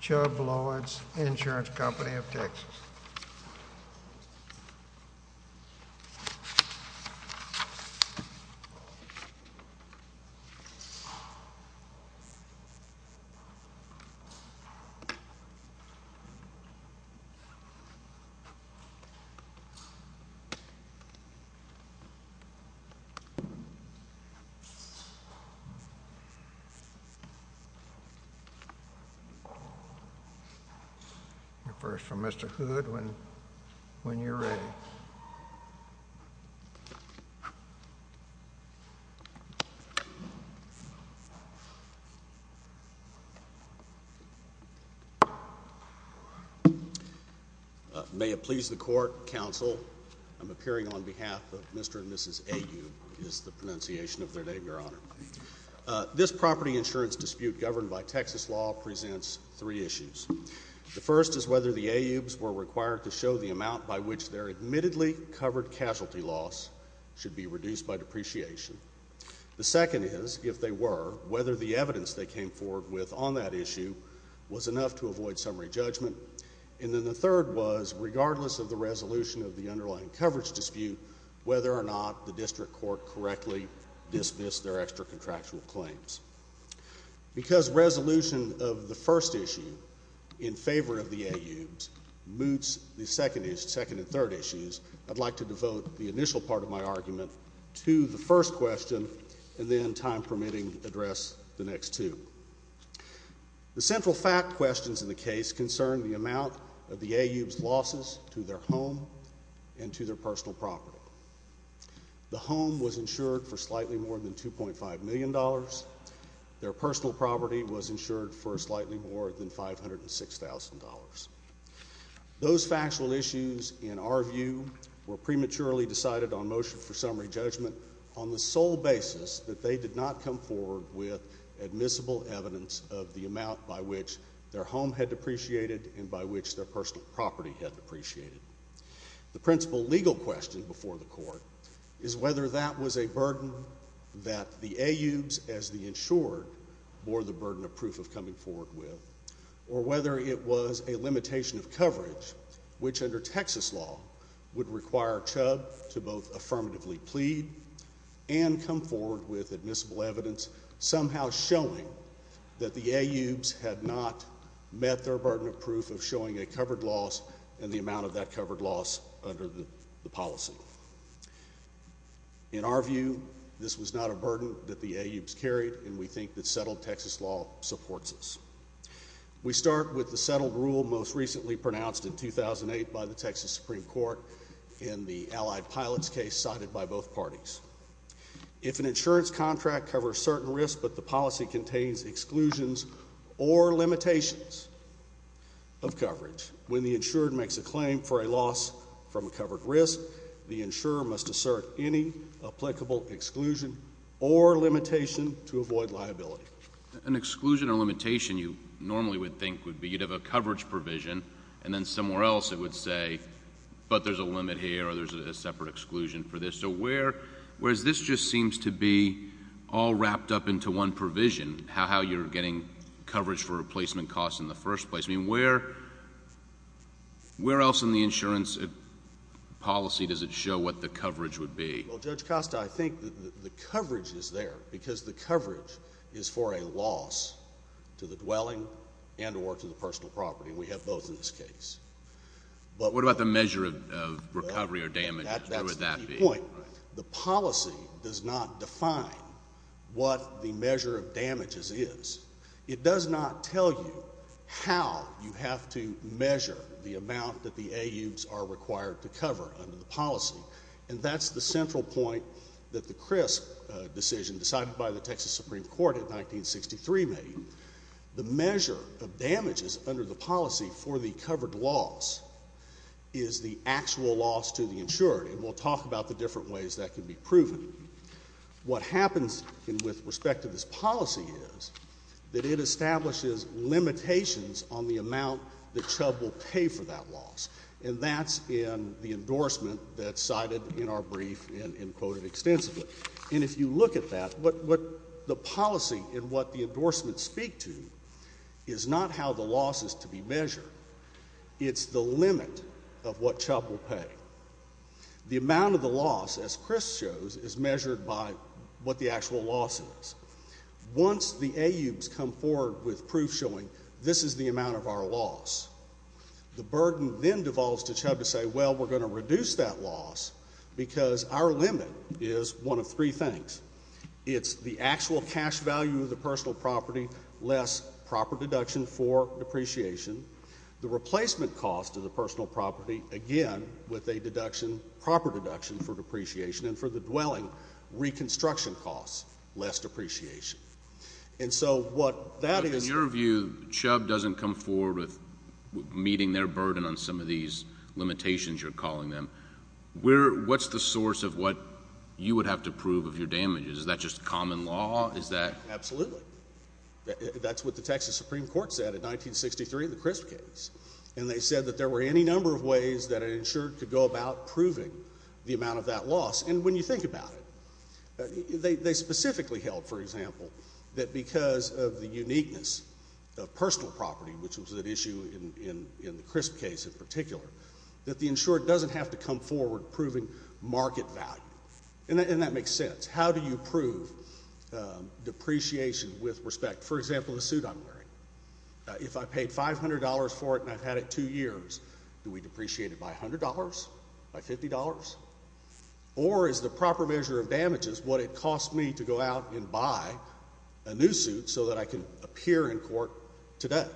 Chubb Lloyds Insurance Company of Texas May it please the Court, Counsel, I'm appearing on behalf of Mr. and Mrs. Ayoub, is the pronunciation of their name, Your Honor. This property insurance dispute governed by Texas law presents three issues. The first is whether the Ayoubs were required to show the amount by which their admittedly covered casualty loss should be reduced by depreciation. The second is, if they were, whether the evidence they came forward with on that issue was enough to avoid summary judgment. And then the third was, regardless of the resolution of the underlying coverage dispute, whether or not the district court correctly dismissed their extra-contractual claims. Because resolution of the first issue in favor of the Ayoubs moots the second and third issues, I'd like to devote the initial part of my argument to the first question, and then, time permitting, address the next two. The central fact questions in the case concern the amount of the Ayoubs' losses to their personal property. The home was insured for slightly more than $2.5 million. Their personal property was insured for slightly more than $506,000. Those factual issues, in our view, were prematurely decided on motion for summary judgment on the sole basis that they did not come forward with admissible evidence of the amount by which their home had depreciated and by which their personal property had depreciated. The principal legal question before the court is whether that was a burden that the Ayoubs, as the insured, bore the burden of proof of coming forward with, or whether it was a limitation of coverage, which under Texas law would require Chubb to both affirmatively plead and come forward with admissible evidence somehow showing that the Ayoubs had not met their burden of proof of showing a covered loss and the amount of that covered loss under the policy. In our view, this was not a burden that the Ayoubs carried, and we think that settled Texas law supports this. We start with the settled rule most recently pronounced in 2008 by the Texas Supreme Court in the Allied Pilots case cited by both parties. If an insurance contract covers certain risks but the policy contains exclusions or limitations of coverage, when the insured makes a claim for a loss from a covered risk, the insurer must assert any applicable exclusion or limitation to avoid liability. An exclusion or limitation you normally would think would be you'd have a coverage provision, and then somewhere else it would say, but there's a limit here or there's a separate exclusion for this. So whereas this just seems to be all wrapped up into one provision, how you're getting coverage for replacement costs in the first place, where else in the insurance policy does it show what the coverage would be? Well, Judge Costa, I think the coverage is there because the coverage is for a loss to the dwelling and or to the personal property, and we have both in this case. What about the measure of recovery or damage? That's the key point. The policy does not define what the measure of damages is. It does not tell you how you have to measure the amount that the AUs are required to cover under the policy, and that's the central point that the CRISP decision decided by the Texas Supreme Court in 1963 made. The measure of damages under the policy for the covered loss is the actual loss to the insured, and we'll talk about the different ways that can be proven. What happens with respect to this policy is that it establishes limitations on the amount that Chubb will pay for that loss, and that's in the endorsement that's cited in our brief and quoted extensively. And if you look at that, what the policy and what the endorsement speak to is not how the loss is to be measured. It's the limit of what Chubb will pay. The amount of the loss, as CRISP shows, is measured by what the actual loss is. Once the AUs come forward with proof showing this is the amount of our loss, the burden then devolves to Chubb to say, well, we're going to reduce that loss because our limit is one of three things. It's the actual cash value of the personal property, less proper deduction for depreciation, the replacement cost of the personal property, again, with a deduction, proper deduction for depreciation, and for the dwelling, reconstruction costs, less depreciation. In your view, Chubb doesn't come forward with meeting their burden on some of these limitations, you're calling them. What's the source of what you would have to prove of your damages? Is that just common law? Absolutely. That's what the Texas Supreme Court said in 1963 in the CRISP case, and they said that there were any number of ways that an insurer could go about proving the amount of that loss. And when you think about it, they specifically held, for example, that because of the uniqueness of personal property, which was at issue in the CRISP case in particular, that the insurer doesn't have to come forward proving market value. And that makes sense. How do you prove depreciation with respect, for example, the suit I'm wearing? If I paid $500 for it and I've had it two years, do we depreciate it by $100, by $50, or is the proper measure of damages what it costs me to go out and buy a new suit so that I can appear in court today?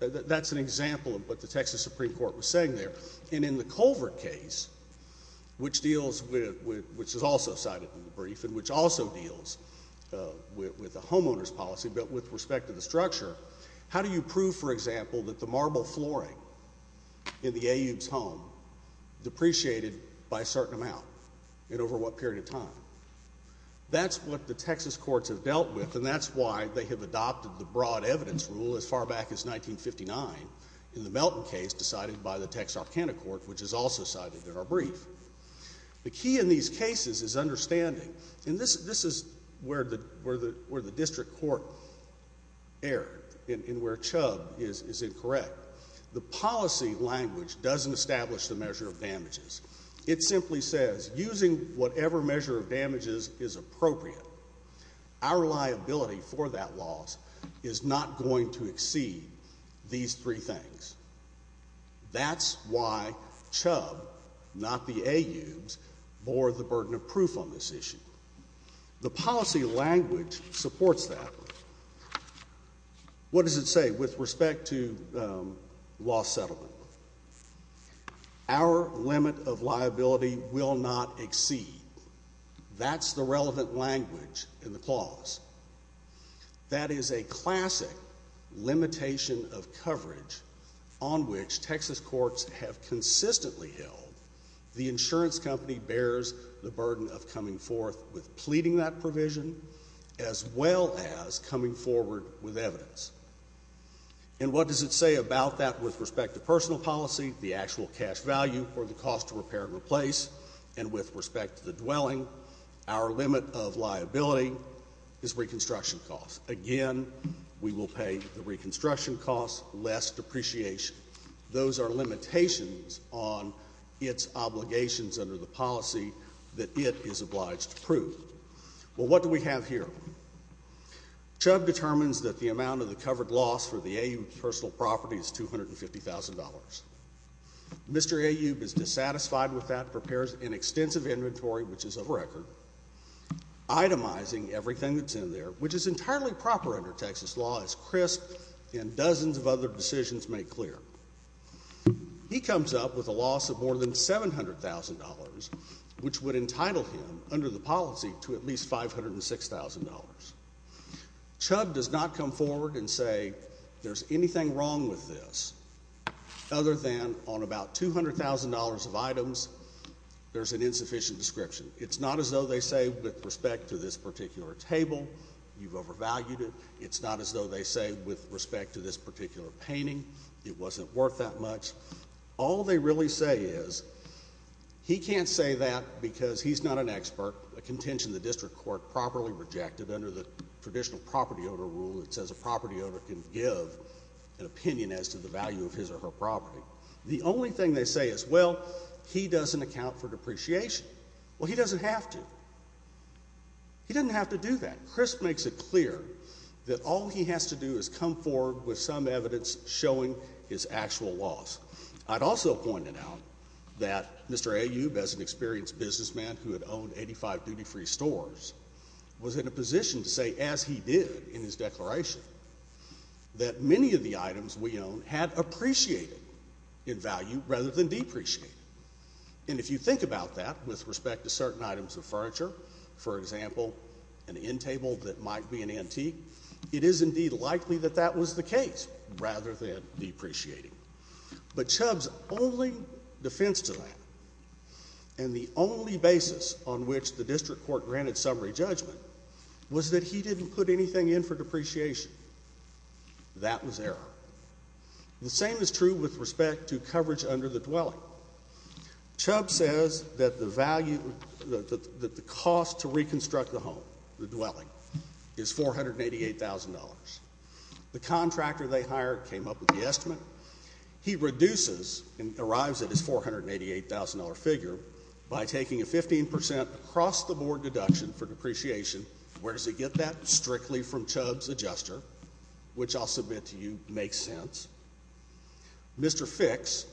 That's an example of what the Texas Supreme Court was saying there. And in the Culvert case, which deals with, which is also cited in the brief, and which also deals with a homeowner's policy, but with respect to the structure, how do you prove, for example, that the marble flooring in the AU's home depreciated by a certain amount, and over what period of time? That's what the Texas courts have dealt with, and that's why they have adopted the broad evidence rule as far back as 1959 in the Melton case, decided by the Texarkana court, which is also cited in our brief. The key in these cases is understanding, and this is where the district court erred, and where Chubb is incorrect. The policy language doesn't establish the measure of damages. It simply says, using whatever measure of damages is appropriate, our liability for that loss is not going to exceed these three things. That's why Chubb, not the AU's, bore the burden of proof on this issue. The policy language supports that. What does it say with respect to loss settlement? Our limit of liability will not exceed. That's the relevant language in the clause. That is a classic limitation of coverage on which Texas courts have consistently held the insurance company bears the burden of coming forth with pleading that provision as well as coming forward with evidence. And what does it say about that with respect to personal policy, the actual cash value for the cost to repair and replace, and with respect to the dwelling, our limit of liability is reconstruction costs. Again, we will pay the reconstruction costs less depreciation. Those are limitations on its obligations under the policy that it is obliged to prove. Well, what do we have here? Chubb determines that the amount of the covered loss for the AU personal property is $250,000. Mr. AU is dissatisfied with that, prepares an extensive inventory, which is a record, itemizing everything that's in there, which is entirely proper under Texas law, as CRISP and dozens of other decisions make clear. He comes up with a loss of more than $700,000, which would entitle him under the policy to at least $506,000. Chubb does not come forward and say there's anything wrong with this other than on about $200,000 of items, there's an insufficient description. It's not as though they say with respect to this particular table, you've overvalued it. It's not as though they say with respect to this particular painting, it wasn't worth that much. All they really say is he can't say that because he's not an expert, a contention the district court properly rejected under the traditional property owner rule that says a property owner can give an opinion as to the value of his or her property. The only thing they say is, well, he doesn't account for depreciation. Well, he doesn't have to. He doesn't have to do that. CRISP makes it clear that all he has to do is come forward with some evidence showing his actual loss. I'd also point it out that Mr. Ayoub, as an experienced businessman who had owned 85 duty-free stores, was in a position to say, as he did in his declaration, that many of the items we own had appreciated in value rather than depreciated. And if you think about that with respect to certain items of furniture, for example, an end table that might be an antique, it is indeed likely that that was the case rather than depreciating. But Chubb's only defense to that and the only basis on which the district court granted summary judgment was that he didn't put anything in for depreciation. That was error. The same is true with respect to coverage under the dwelling. Chubb says that the cost to reconstruct the home, the dwelling, is $488,000. The contractor they hired came up with the estimate. He reduces and arrives at his $488,000 figure by taking a 15% across-the-board deduction for depreciation. Where does he get that? Strictly from Chubb's adjuster, which I'll submit to you makes sense. Mr. Fix,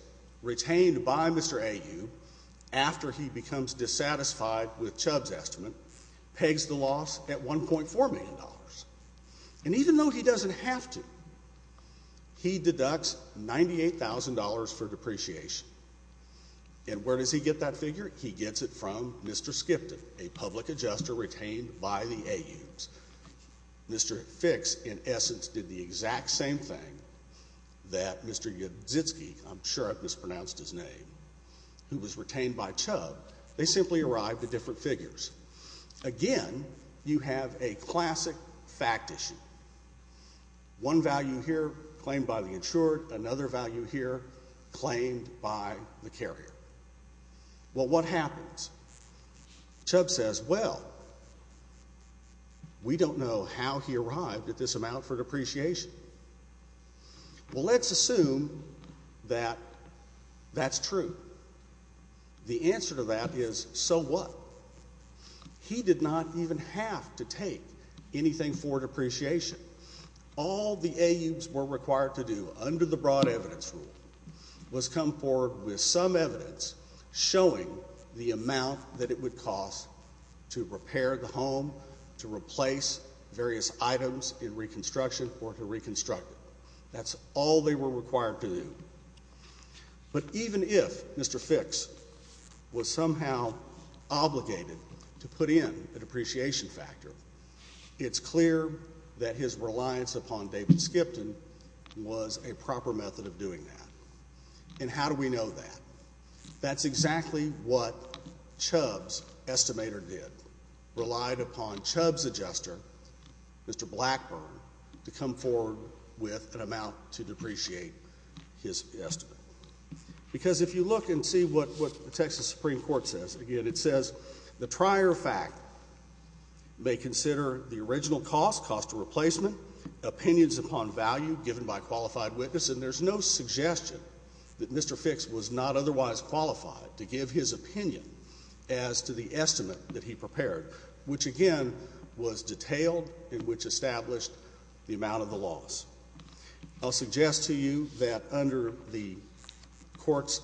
retained by Mr. Ayoub after he becomes dissatisfied with Chubb's estimate, pegs the loss at $1.4 million. And even though he doesn't have to, he deducts $98,000 for depreciation. And where does he get that figure? He gets it from Mr. Skipton, a public adjuster retained by the Ayoubs. Mr. Fix, in essence, did the exact same thing that Mr. Yudzitsky, I'm sure I've mispronounced his name, who was retained by Chubb, they simply arrived at different figures. Again, you have a classic fact issue. One value here claimed by the insured, another value here claimed by the carrier. Well, what happens? Chubb says, well, we don't know how he arrived at this amount for depreciation. Well, let's assume that that's true. The answer to that is, so what? He did not even have to take anything for depreciation. All the Ayoubs were required to do under the broad evidence rule was come forward with some evidence showing the amount that it would cost to repair the home, to replace various items in reconstruction or to reconstruct it. That's all they were required to do. But even if Mr. Fix was somehow obligated to put in a depreciation factor, it's clear that his reliance upon David Skipton was a proper method of doing that. And how do we know that? That's exactly what Chubb's estimator did, relied upon Chubb's adjuster, Mr. Blackburn, to come forward with an amount to depreciate his estimate. Because if you look and see what the Texas Supreme Court says, again, it says, the trier fact may consider the original cost, cost of replacement, opinions upon value given by qualified witness, and there's no suggestion that Mr. Fix was not otherwise qualified to give his opinion as to the estimate that he prepared, which, again, was detailed in which established the amount of the loss. I'll suggest to you that under the court's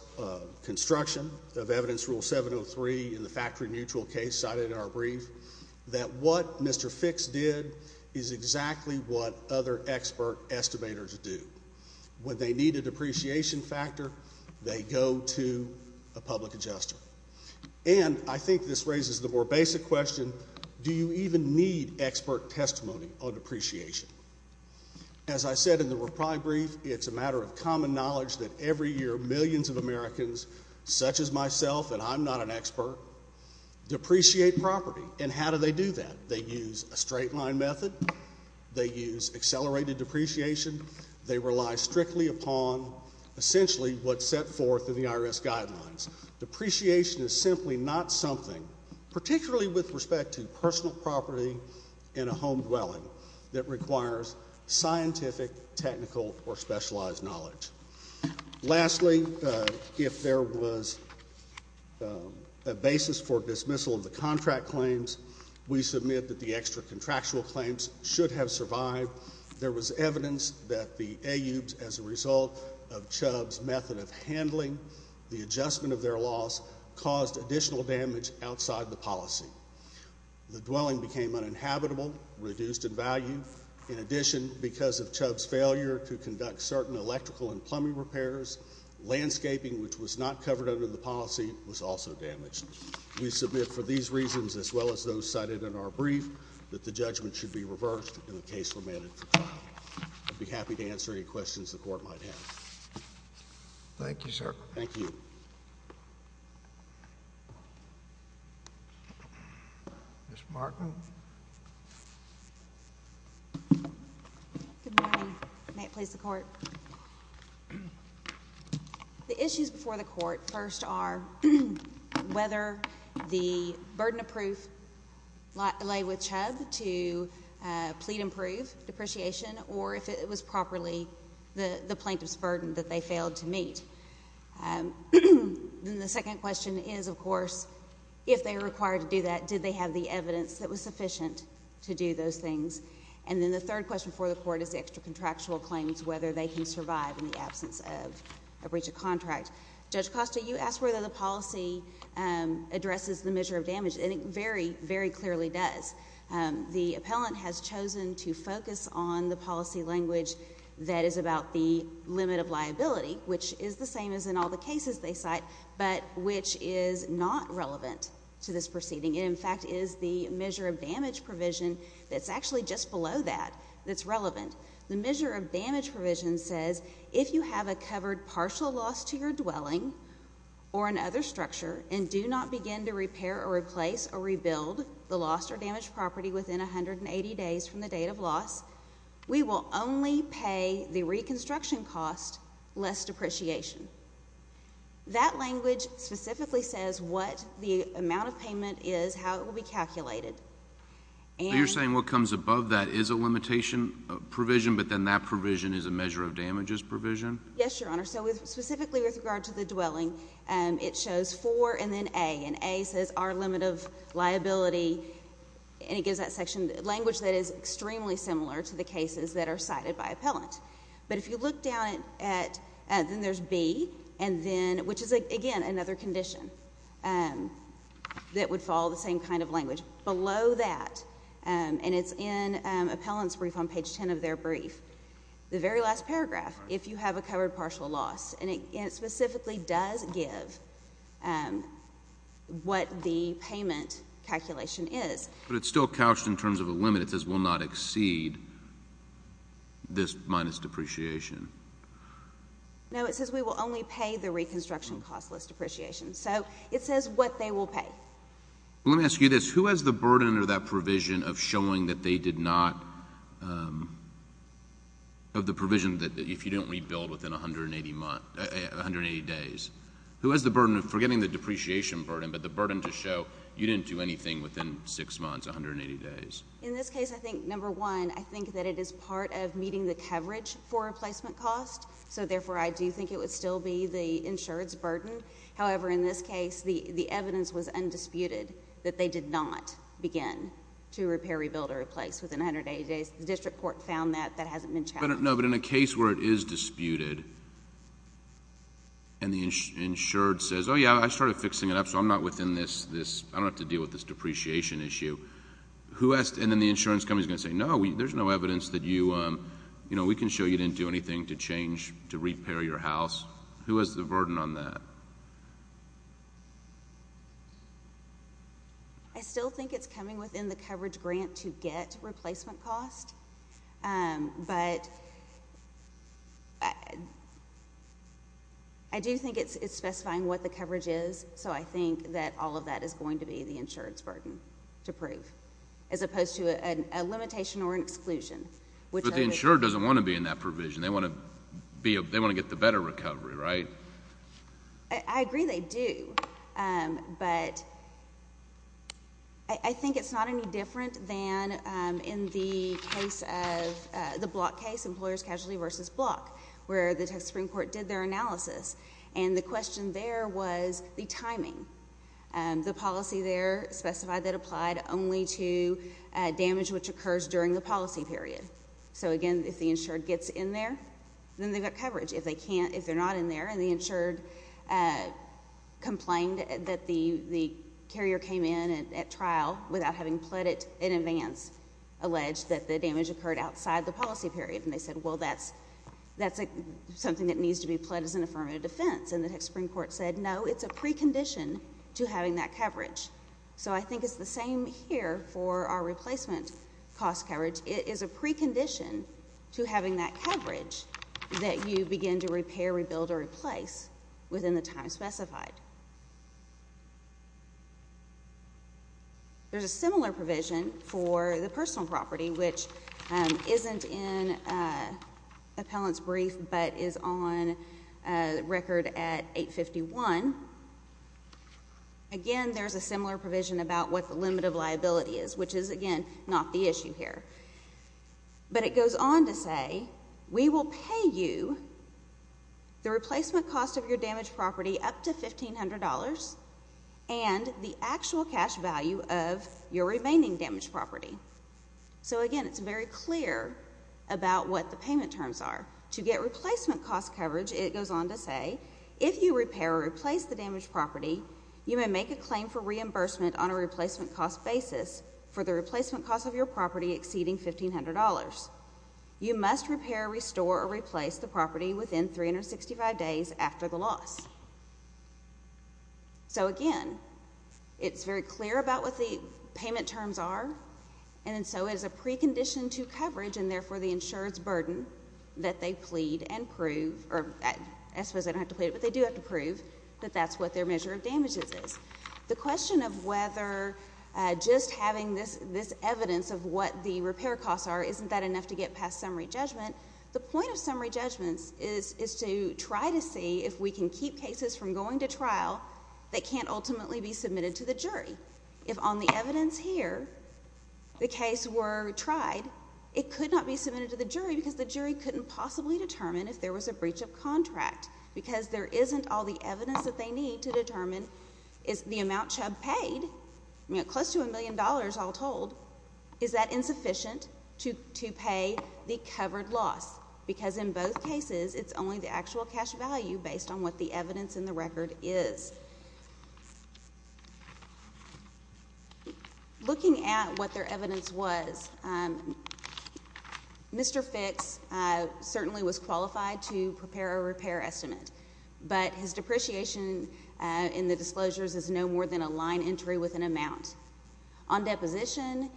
construction of evidence rule 703 in the factory mutual case cited in our brief that what Mr. Fix did is exactly what other expert estimators do. When they need a depreciation factor, they go to a public adjuster. And I think this raises the more basic question, do you even need expert testimony on depreciation? As I said in the reply brief, it's a matter of common knowledge that every year millions of Americans, such as myself, and I'm not an expert, depreciate property. And how do they do that? They use a straight line method. They use accelerated depreciation. They rely strictly upon essentially what's set forth in the IRS guidelines. Depreciation is simply not something, particularly with respect to personal property in a home dwelling, that requires scientific, technical, or specialized knowledge. Lastly, if there was a basis for dismissal of the contract claims, we submit that the extra contractual claims should have survived. There was evidence that the AUs, as a result of Chubb's method of handling the adjustment of their loss, caused additional damage outside the policy. The dwelling became uninhabitable, reduced in value. In addition, because of Chubb's failure to conduct certain electrical and plumbing repairs, landscaping, which was not covered under the policy, was also damaged. We submit for these reasons, as well as those cited in our brief, that the judgment should be reversed and the case remanded for trial. I'd be happy to answer any questions the Court might have. Thank you, sir. Thank you. Ms. Markman. Good morning. May it please the Court. The issues before the Court, first, are whether the burden of proof lay with Chubb to plead and prove depreciation, or if it was properly the plaintiff's burden that they failed to meet. Then the second question is, of course, if they were required to do that, did they have the evidence that was sufficient to do those things? And then the third question before the Court is the extra contractual claims, whether they can survive in the absence of a breach of contract. Judge Costa, you asked whether the policy addresses the measure of damage, and it very, very clearly does. The appellant has chosen to focus on the policy language that is about the limit of liability, which is the same as in all the cases they cite, but which is not relevant to this proceeding. It, in fact, is the measure of damage provision that's actually just below that that's relevant. The measure of damage provision says, if you have a covered partial loss to your dwelling or another structure and do not begin to repair or replace or rebuild the lost or damaged property within 180 days from the date of loss, we will only pay the reconstruction cost less depreciation. That language specifically says what the amount of payment is, how it will be calculated. So you're saying what comes above that is a limitation provision, but then that provision is a measure of damage provision? Yes, Your Honor. So specifically with regard to the dwelling, it shows 4 and then A, and A says our limit of liability, and it gives that section language that is extremely similar to the cases that are cited by appellant. But if you look down at, then there's B, and then, which is, again, another condition that would follow the same kind of language. Below that, and it's in appellant's brief on page 10 of their brief, the very last paragraph, if you have a covered partial loss, and it specifically does give what the payment calculation is. But it's still couched in terms of a limit. It says we'll not exceed this minus depreciation. No, it says we will only pay the reconstruction cost less depreciation. So it says what they will pay. Let me ask you this. Who has the burden under that provision of showing that they did not, of the provision that if you didn't rebuild within 180 days, who has the burden of forgetting the depreciation burden, but the burden to show you didn't do anything within 6 months, 180 days? In this case, I think, number one, I think that it is part of meeting the coverage for replacement cost. So therefore, I do think it would still be the insured's burden. However, in this case, the evidence was undisputed that they did not begin to repair, rebuild, or replace within 180 days. The district court found that. That hasn't been challenged. No, but in a case where it is disputed and the insured says, oh, yeah, I started fixing it up, so I'm not within this, I don't have to deal with this depreciation issue. And then the insurance company is going to say, no, there's no evidence that you, you know, we can show you didn't do anything to change, to repair your house. Who has the burden on that? I still think it's coming within the coverage grant to get replacement cost. But I do think it's specifying what the coverage is, so I think that all of that is going to be the insured's burden to prove as opposed to a limitation or an exclusion. But the insured doesn't want to be in that provision. They want to get the better recovery, right? I agree they do. But I think it's not any different than in the case of the Block case, Employers Casually versus Block, where the Texas Supreme Court did their analysis, and the question there was the timing. The policy there specified that it applied only to damage which occurs during the policy period. So, again, if the insured gets in there, then they've got coverage. If they can't, if they're not in there, and the insured complained that the carrier came in at trial without having pled it in advance, alleged that the damage occurred outside the policy period, and they said, well, that's something that needs to be pled as an affirmative defense. And the Texas Supreme Court said, no, it's a precondition to having that coverage. So I think it's the same here for our replacement cost coverage. It is a precondition to having that coverage that you begin to repair, rebuild, or replace within the time specified. There's a similar provision for the personal property, which isn't in appellant's brief but is on record at 851. Again, there's a similar provision about what the limit of liability is, which is, again, not the issue here. But it goes on to say, we will pay you the replacement cost of your damaged property up to $1,500 and the actual cash value of your remaining damaged property. So, again, it's very clear about what the payment terms are. To get replacement cost coverage, it goes on to say, if you repair or replace the damaged property, you may make a claim for reimbursement on a replacement cost basis for the replacement cost of your property exceeding $1,500. You must repair, restore, or replace the property within 365 days after the loss. So, again, it's very clear about what the payment terms are. And so, it is a precondition to coverage and, therefore, the insurer's burden that they plead and prove, or I suppose they don't have to plead, but they do have to prove that that's what their measure of damages is. The question of whether just having this evidence of what the repair costs are, isn't that enough to get past summary judgment? The point of summary judgments is to try to see if we can keep cases from going to trial that can't ultimately be submitted to the jury. If on the evidence here, the case were tried, it could not be submitted to the jury because the jury couldn't possibly determine if there was a breach of contract because there isn't all the evidence that they need to determine is the amount Chubb paid, close to a million dollars all told, is that insufficient to pay the covered loss? Because in both cases, it's only the actual cash value based on what the evidence in the record is. Looking at what their evidence was, Mr. Fix certainly was qualified to prepare a repair estimate, but his depreciation in the disclosures is no more than a line entry with an amount. On deposition,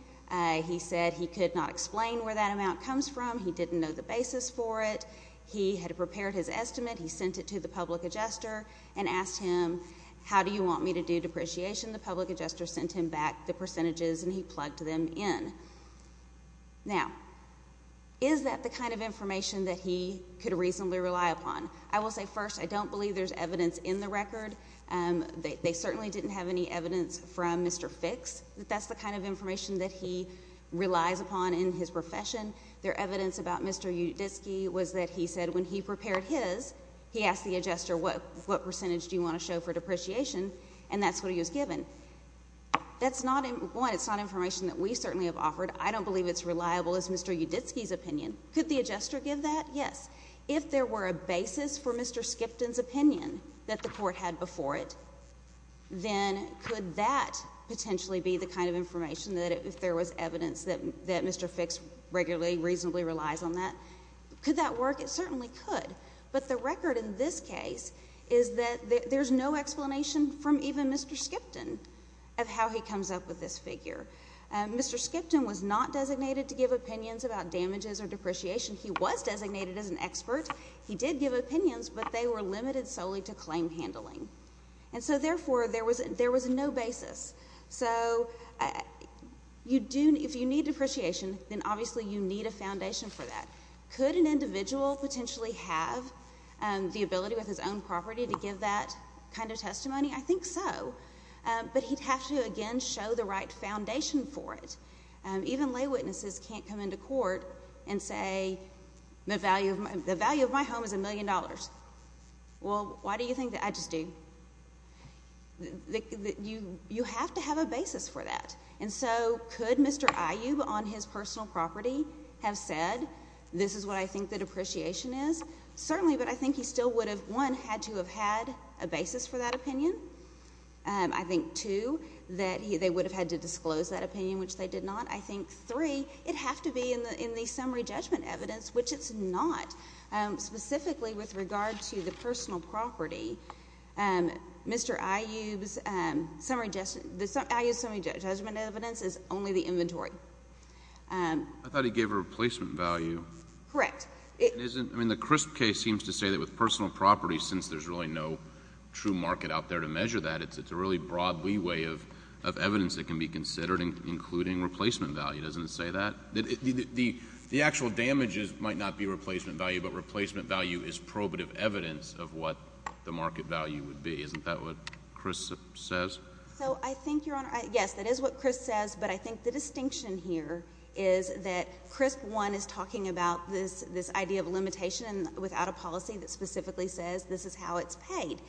he said he could not explain where that amount comes from. He didn't know the basis for it. He had prepared his estimate. He sent it to the public adjuster and asked him, how do you want me to do depreciation? The public adjuster sent him back the percentages, and he plugged them in. Now, is that the kind of information that he could reasonably rely upon? I will say first, I don't believe there's evidence in the record. They certainly didn't have any evidence from Mr. Fix that that's the kind of information that he relies upon in his profession. Their evidence about Mr. Uditsky was that he said when he prepared his, he asked the adjuster, what percentage do you want to show for depreciation? And that's what he was given. That's not information that we certainly have offered. I don't believe it's reliable as Mr. Uditsky's opinion. Could the adjuster give that? Yes. If there were a basis for Mr. Skipton's opinion that the court had before it, then could that potentially be the kind of information that if there was evidence that Mr. Fix regularly reasonably relies on that? Could that work? It certainly could. But the record in this case is that there's no explanation from even Mr. Skipton of how he comes up with this figure. Mr. Skipton was not designated to give opinions about damages or depreciation. He was designated as an expert. He did give opinions, but they were limited solely to claim handling. And so, therefore, there was no basis. So if you need depreciation, then obviously you need a foundation for that. Could an individual potentially have the ability with his own property to give that kind of testimony? I think so. But he'd have to, again, show the right foundation for it. Even lay witnesses can't come into court and say the value of my home is $1 million. Well, why do you think that? I just do. You have to have a basis for that. And so could Mr. Iyub on his personal property have said this is what I think the depreciation is? Certainly, but I think he still would have, one, had to have had a basis for that opinion. I think, two, that they would have had to disclose that opinion, which they did not. I think, three, it'd have to be in the summary judgment evidence, which it's not. Specifically with regard to the personal property, Mr. Iyub's summary judgment evidence is only the inventory. I thought he gave a replacement value. Correct. The CRISP case seems to say that with personal property, since there's really no true market out there to measure that, it's a really broad leeway of evidence that can be considered, including replacement value. Doesn't it say that? The actual damages might not be replacement value, but replacement value is probative evidence of what the market value would be. Isn't that what CRISP says? So I think, Your Honor, yes, that is what CRISP says. But I think the distinction here is that CRISP, one, is talking about this idea of limitation without a policy that specifically says this is how it's paid.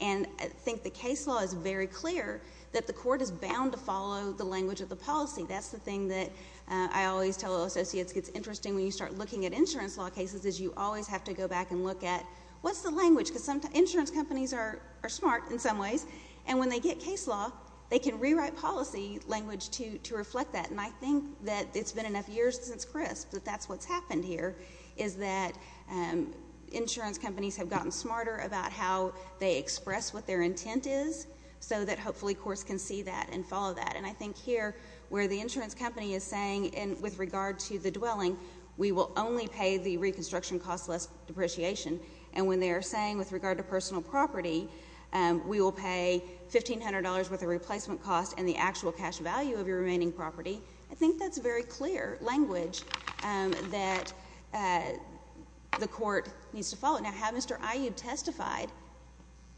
And I think the case law is very clear that the court is bound to follow the language of the policy. That's the thing that I always tell associates gets interesting when you start looking at insurance law cases is you always have to go back and look at what's the language? Because insurance companies are smart in some ways, and when they get case law, they can rewrite policy language to reflect that. And I think that it's been enough years since CRISP that that's what's happened here, is that insurance companies have gotten smarter about how they express what their intent is so that hopefully courts can see that and follow that. And I think here where the insurance company is saying with regard to the dwelling, we will only pay the reconstruction cost less depreciation, and when they are saying with regard to personal property, we will pay $1,500 worth of replacement cost and the actual cash value of your remaining property, I think that's very clear language that the court needs to follow. Now, had Mr. Aiyud testified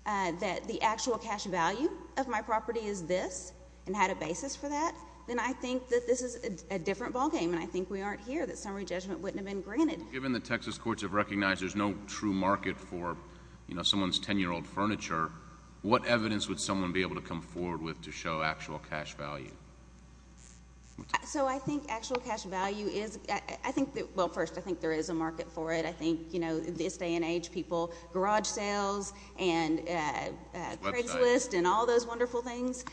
that the actual cash value of my property is this and had a basis for that, then I think that this is a different ballgame, and I think we aren't here, that summary judgment wouldn't have been granted. Well, given that Texas courts have recognized there's no true market for someone's 10-year-old furniture, what evidence would someone be able to come forward with to show actual cash value? So I think actual cash value is, well, first, I think there is a market for it. I think, you know, this day and age, people, garage sales and Craigslist and all those wonderful things.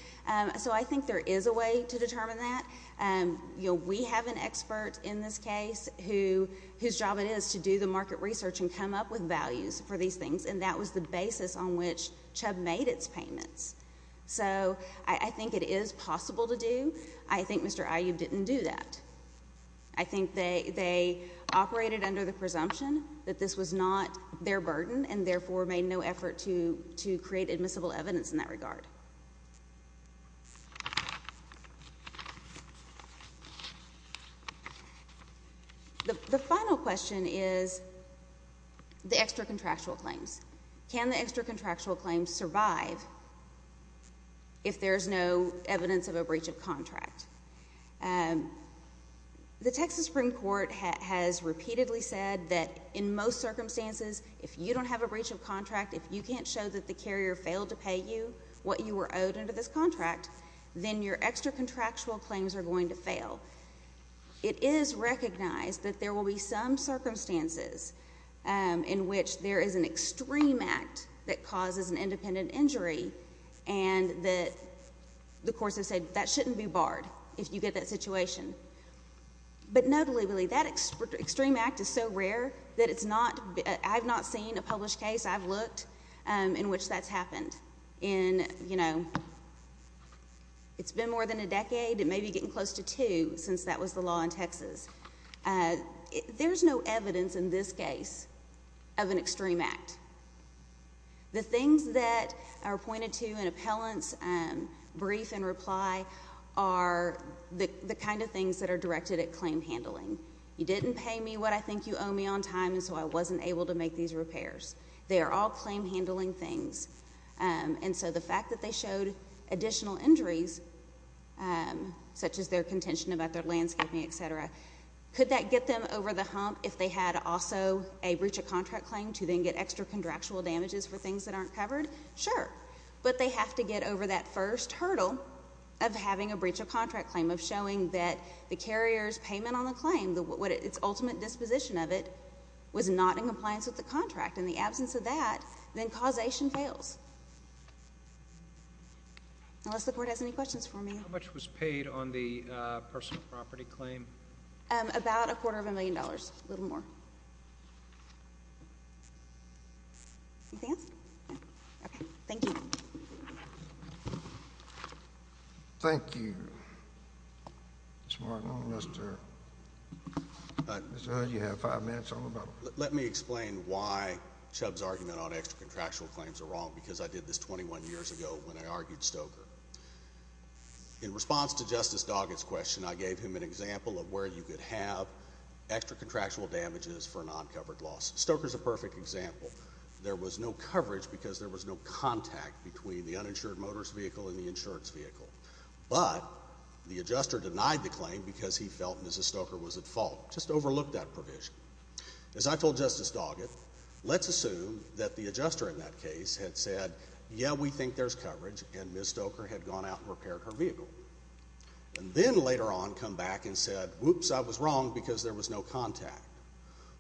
So I think there is a way to determine that. You know, we have an expert in this case whose job it is to do the market research and come up with values for these things, and that was the basis on which Chubb made its payments. So I think it is possible to do. I think Mr. Aiyud didn't do that. I think they operated under the presumption that this was not their burden and therefore made no effort to create admissible evidence in that regard. The final question is the extra-contractual claims. Can the extra-contractual claims survive if there's no evidence of a breach of contract? The Texas Supreme Court has repeatedly said that in most circumstances, if you don't have a breach of contract, if you can't show that the carrier failed to pay you what you were owed under this contract, then your extra-contractual claims are going to fail. It is recognized that there will be some circumstances in which there is an extreme act that causes an independent injury and that the courts have said that shouldn't be barred if you get that situation. But no, deliberately, that extreme act is so rare that it's not, I've not seen a published case, I've looked, in which that's happened in, you know, it's been more than a decade, it may be getting close to two since that was the law in Texas. There's no evidence in this case of an extreme act. The things that are pointed to in appellants' brief and reply are the kind of things that are directed at claim handling. You didn't pay me what I think you owe me on time, and so I wasn't able to make these repairs. They are all claim handling things. And so the fact that they showed additional injuries, such as their contention about their landscaping, et cetera, could that get them over the hump if they had also a breach of contract claim to then get extra-contractual damages for things that aren't covered? Sure. But they have to get over that first hurdle of having a breach of contract claim, of showing that the carrier's payment on the claim, its ultimate disposition of it, was not in compliance with the contract. In the absence of that, then causation fails. Unless the Board has any questions for me. How much was paid on the personal property claim? About a quarter of a million dollars, a little more. Anything else? No. Okay. Thank you. Thank you. Mr. Martin, Mr. Hood, you have five minutes. Let me explain why Chubb's argument on extra-contractual claims are wrong because I did this 21 years ago when I argued Stoker. In response to Justice Doggett's question, I gave him an example of where you could have extra-contractual damages for non-covered loss. Stoker's a perfect example. There was no coverage because there was no contact between the uninsured motorist vehicle and the insurance vehicle. But the adjuster denied the claim because he felt Mrs. Stoker was at fault, just overlooked that provision. As I told Justice Doggett, let's assume that the adjuster in that case had said, yeah, we think there's coverage, and Mrs. Stoker had gone out and repaired her vehicle and then later on come back and said, whoops, I was wrong because there was no contact.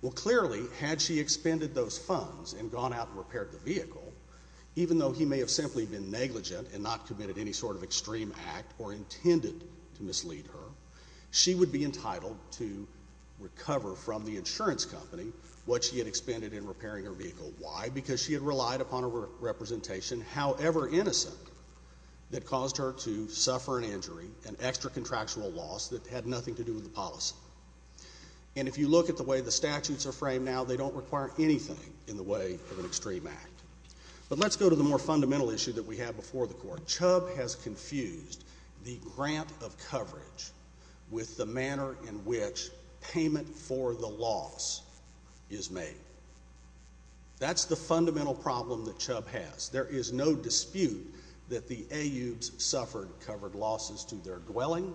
Well, clearly, had she expended those funds and gone out and repaired the vehicle, even though he may have simply been negligent and not committed any sort of extreme act or intended to mislead her, she would be entitled to recover from the insurance company what she had expended in repairing her vehicle. Why? Because she had relied upon a representation, however innocent, that caused her to suffer an injury, an extra-contractual loss that had nothing to do with the policy. And if you look at the way the statutes are framed now, they don't require anything in the way of an extreme act. But let's go to the more fundamental issue that we have before the Court. Chubb has confused the grant of coverage with the manner in which payment for the loss is made. That's the fundamental problem that Chubb has. There is no dispute that the AUs suffered covered losses to their dwelling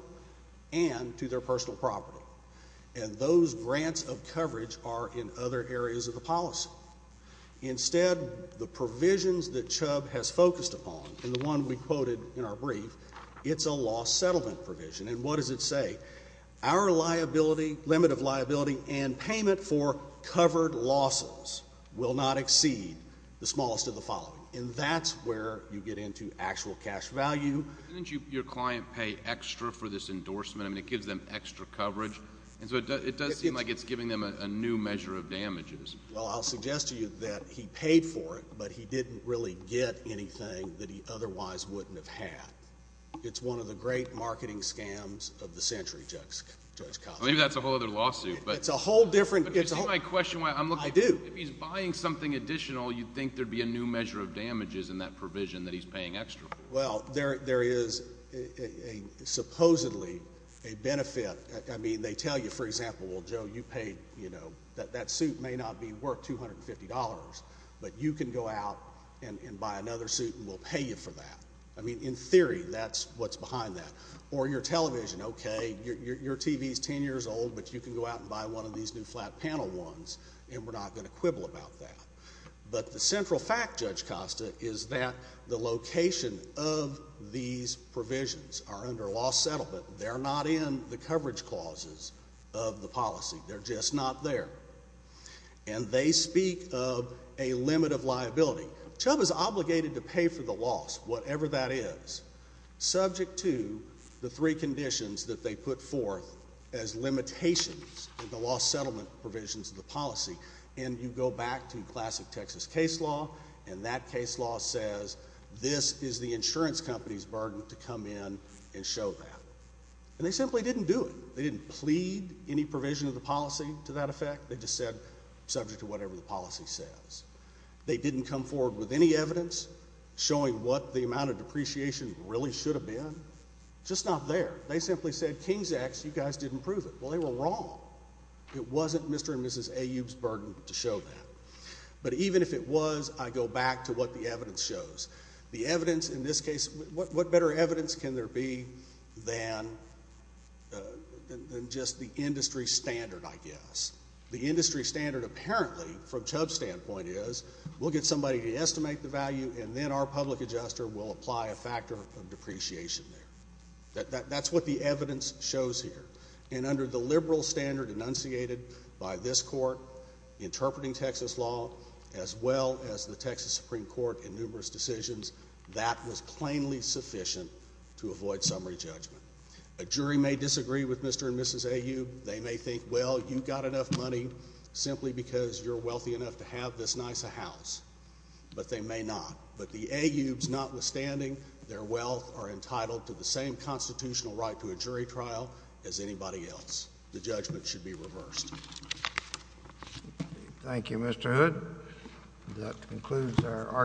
and to their personal property. And those grants of coverage are in other areas of the policy. Instead, the provisions that Chubb has focused upon, and the one we quoted in our brief, it's a loss settlement provision. And what does it say? Our liability, limit of liability, and payment for covered losses will not exceed the smallest of the following. And that's where you get into actual cash value. Doesn't your client pay extra for this endorsement? I mean, it gives them extra coverage. And so it does seem like it's giving them a new measure of damages. Well, I'll suggest to you that he paid for it, but he didn't really get anything that he otherwise wouldn't have had. It's one of the great marketing scams of the century, Judge Costner. Maybe that's a whole other lawsuit. It's a whole different. But you see my question? I do. If he's buying something additional, you'd think there'd be a new measure of damages in that provision that he's paying extra for. Well, there is supposedly a benefit. I mean, they tell you, for example, well, Joe, you paid, you know, that suit may not be worth $250, but you can go out and buy another suit and we'll pay you for that. I mean, in theory, that's what's behind that. Or your television, okay, your TV is 10 years old, but you can go out and buy one of these new flat panel ones and we're not going to quibble about that. But the central fact, Judge Costa, is that the location of these provisions are under a law settlement. They're not in the coverage clauses of the policy. They're just not there. And they speak of a limit of liability. Chubb is obligated to pay for the loss, whatever that is, subject to the three conditions that they put forth as limitations in the law settlement provisions of the policy. And you go back to classic Texas case law, and that case law says this is the insurance company's burden to come in and show that. And they simply didn't do it. They didn't plead any provision of the policy to that effect. They just said subject to whatever the policy says. They didn't come forward with any evidence showing what the amount of depreciation really should have been. Just not there. They simply said, King's X, you guys didn't prove it. Well, they were wrong. It wasn't Mr. and Mrs. Aube's burden to show that. But even if it was, I go back to what the evidence shows. The evidence in this case, what better evidence can there be than just the industry standard, I guess. The industry standard apparently, from Chubb's standpoint, is we'll get somebody to estimate the value, and then our public adjuster will apply a factor of depreciation there. That's what the evidence shows here. And under the liberal standard enunciated by this court, interpreting Texas law, as well as the Texas Supreme Court in numerous decisions, that was plainly sufficient to avoid summary judgment. A jury may disagree with Mr. and Mrs. Aube. They may think, well, you've got enough money simply because you're wealthy enough to have this nice a house. But they may not. But the Aubes, notwithstanding, their wealth are entitled to the same constitutional right to a jury trial as anybody else. The judgment should be reversed. Thank you, Mr. Hood. That concludes our argument.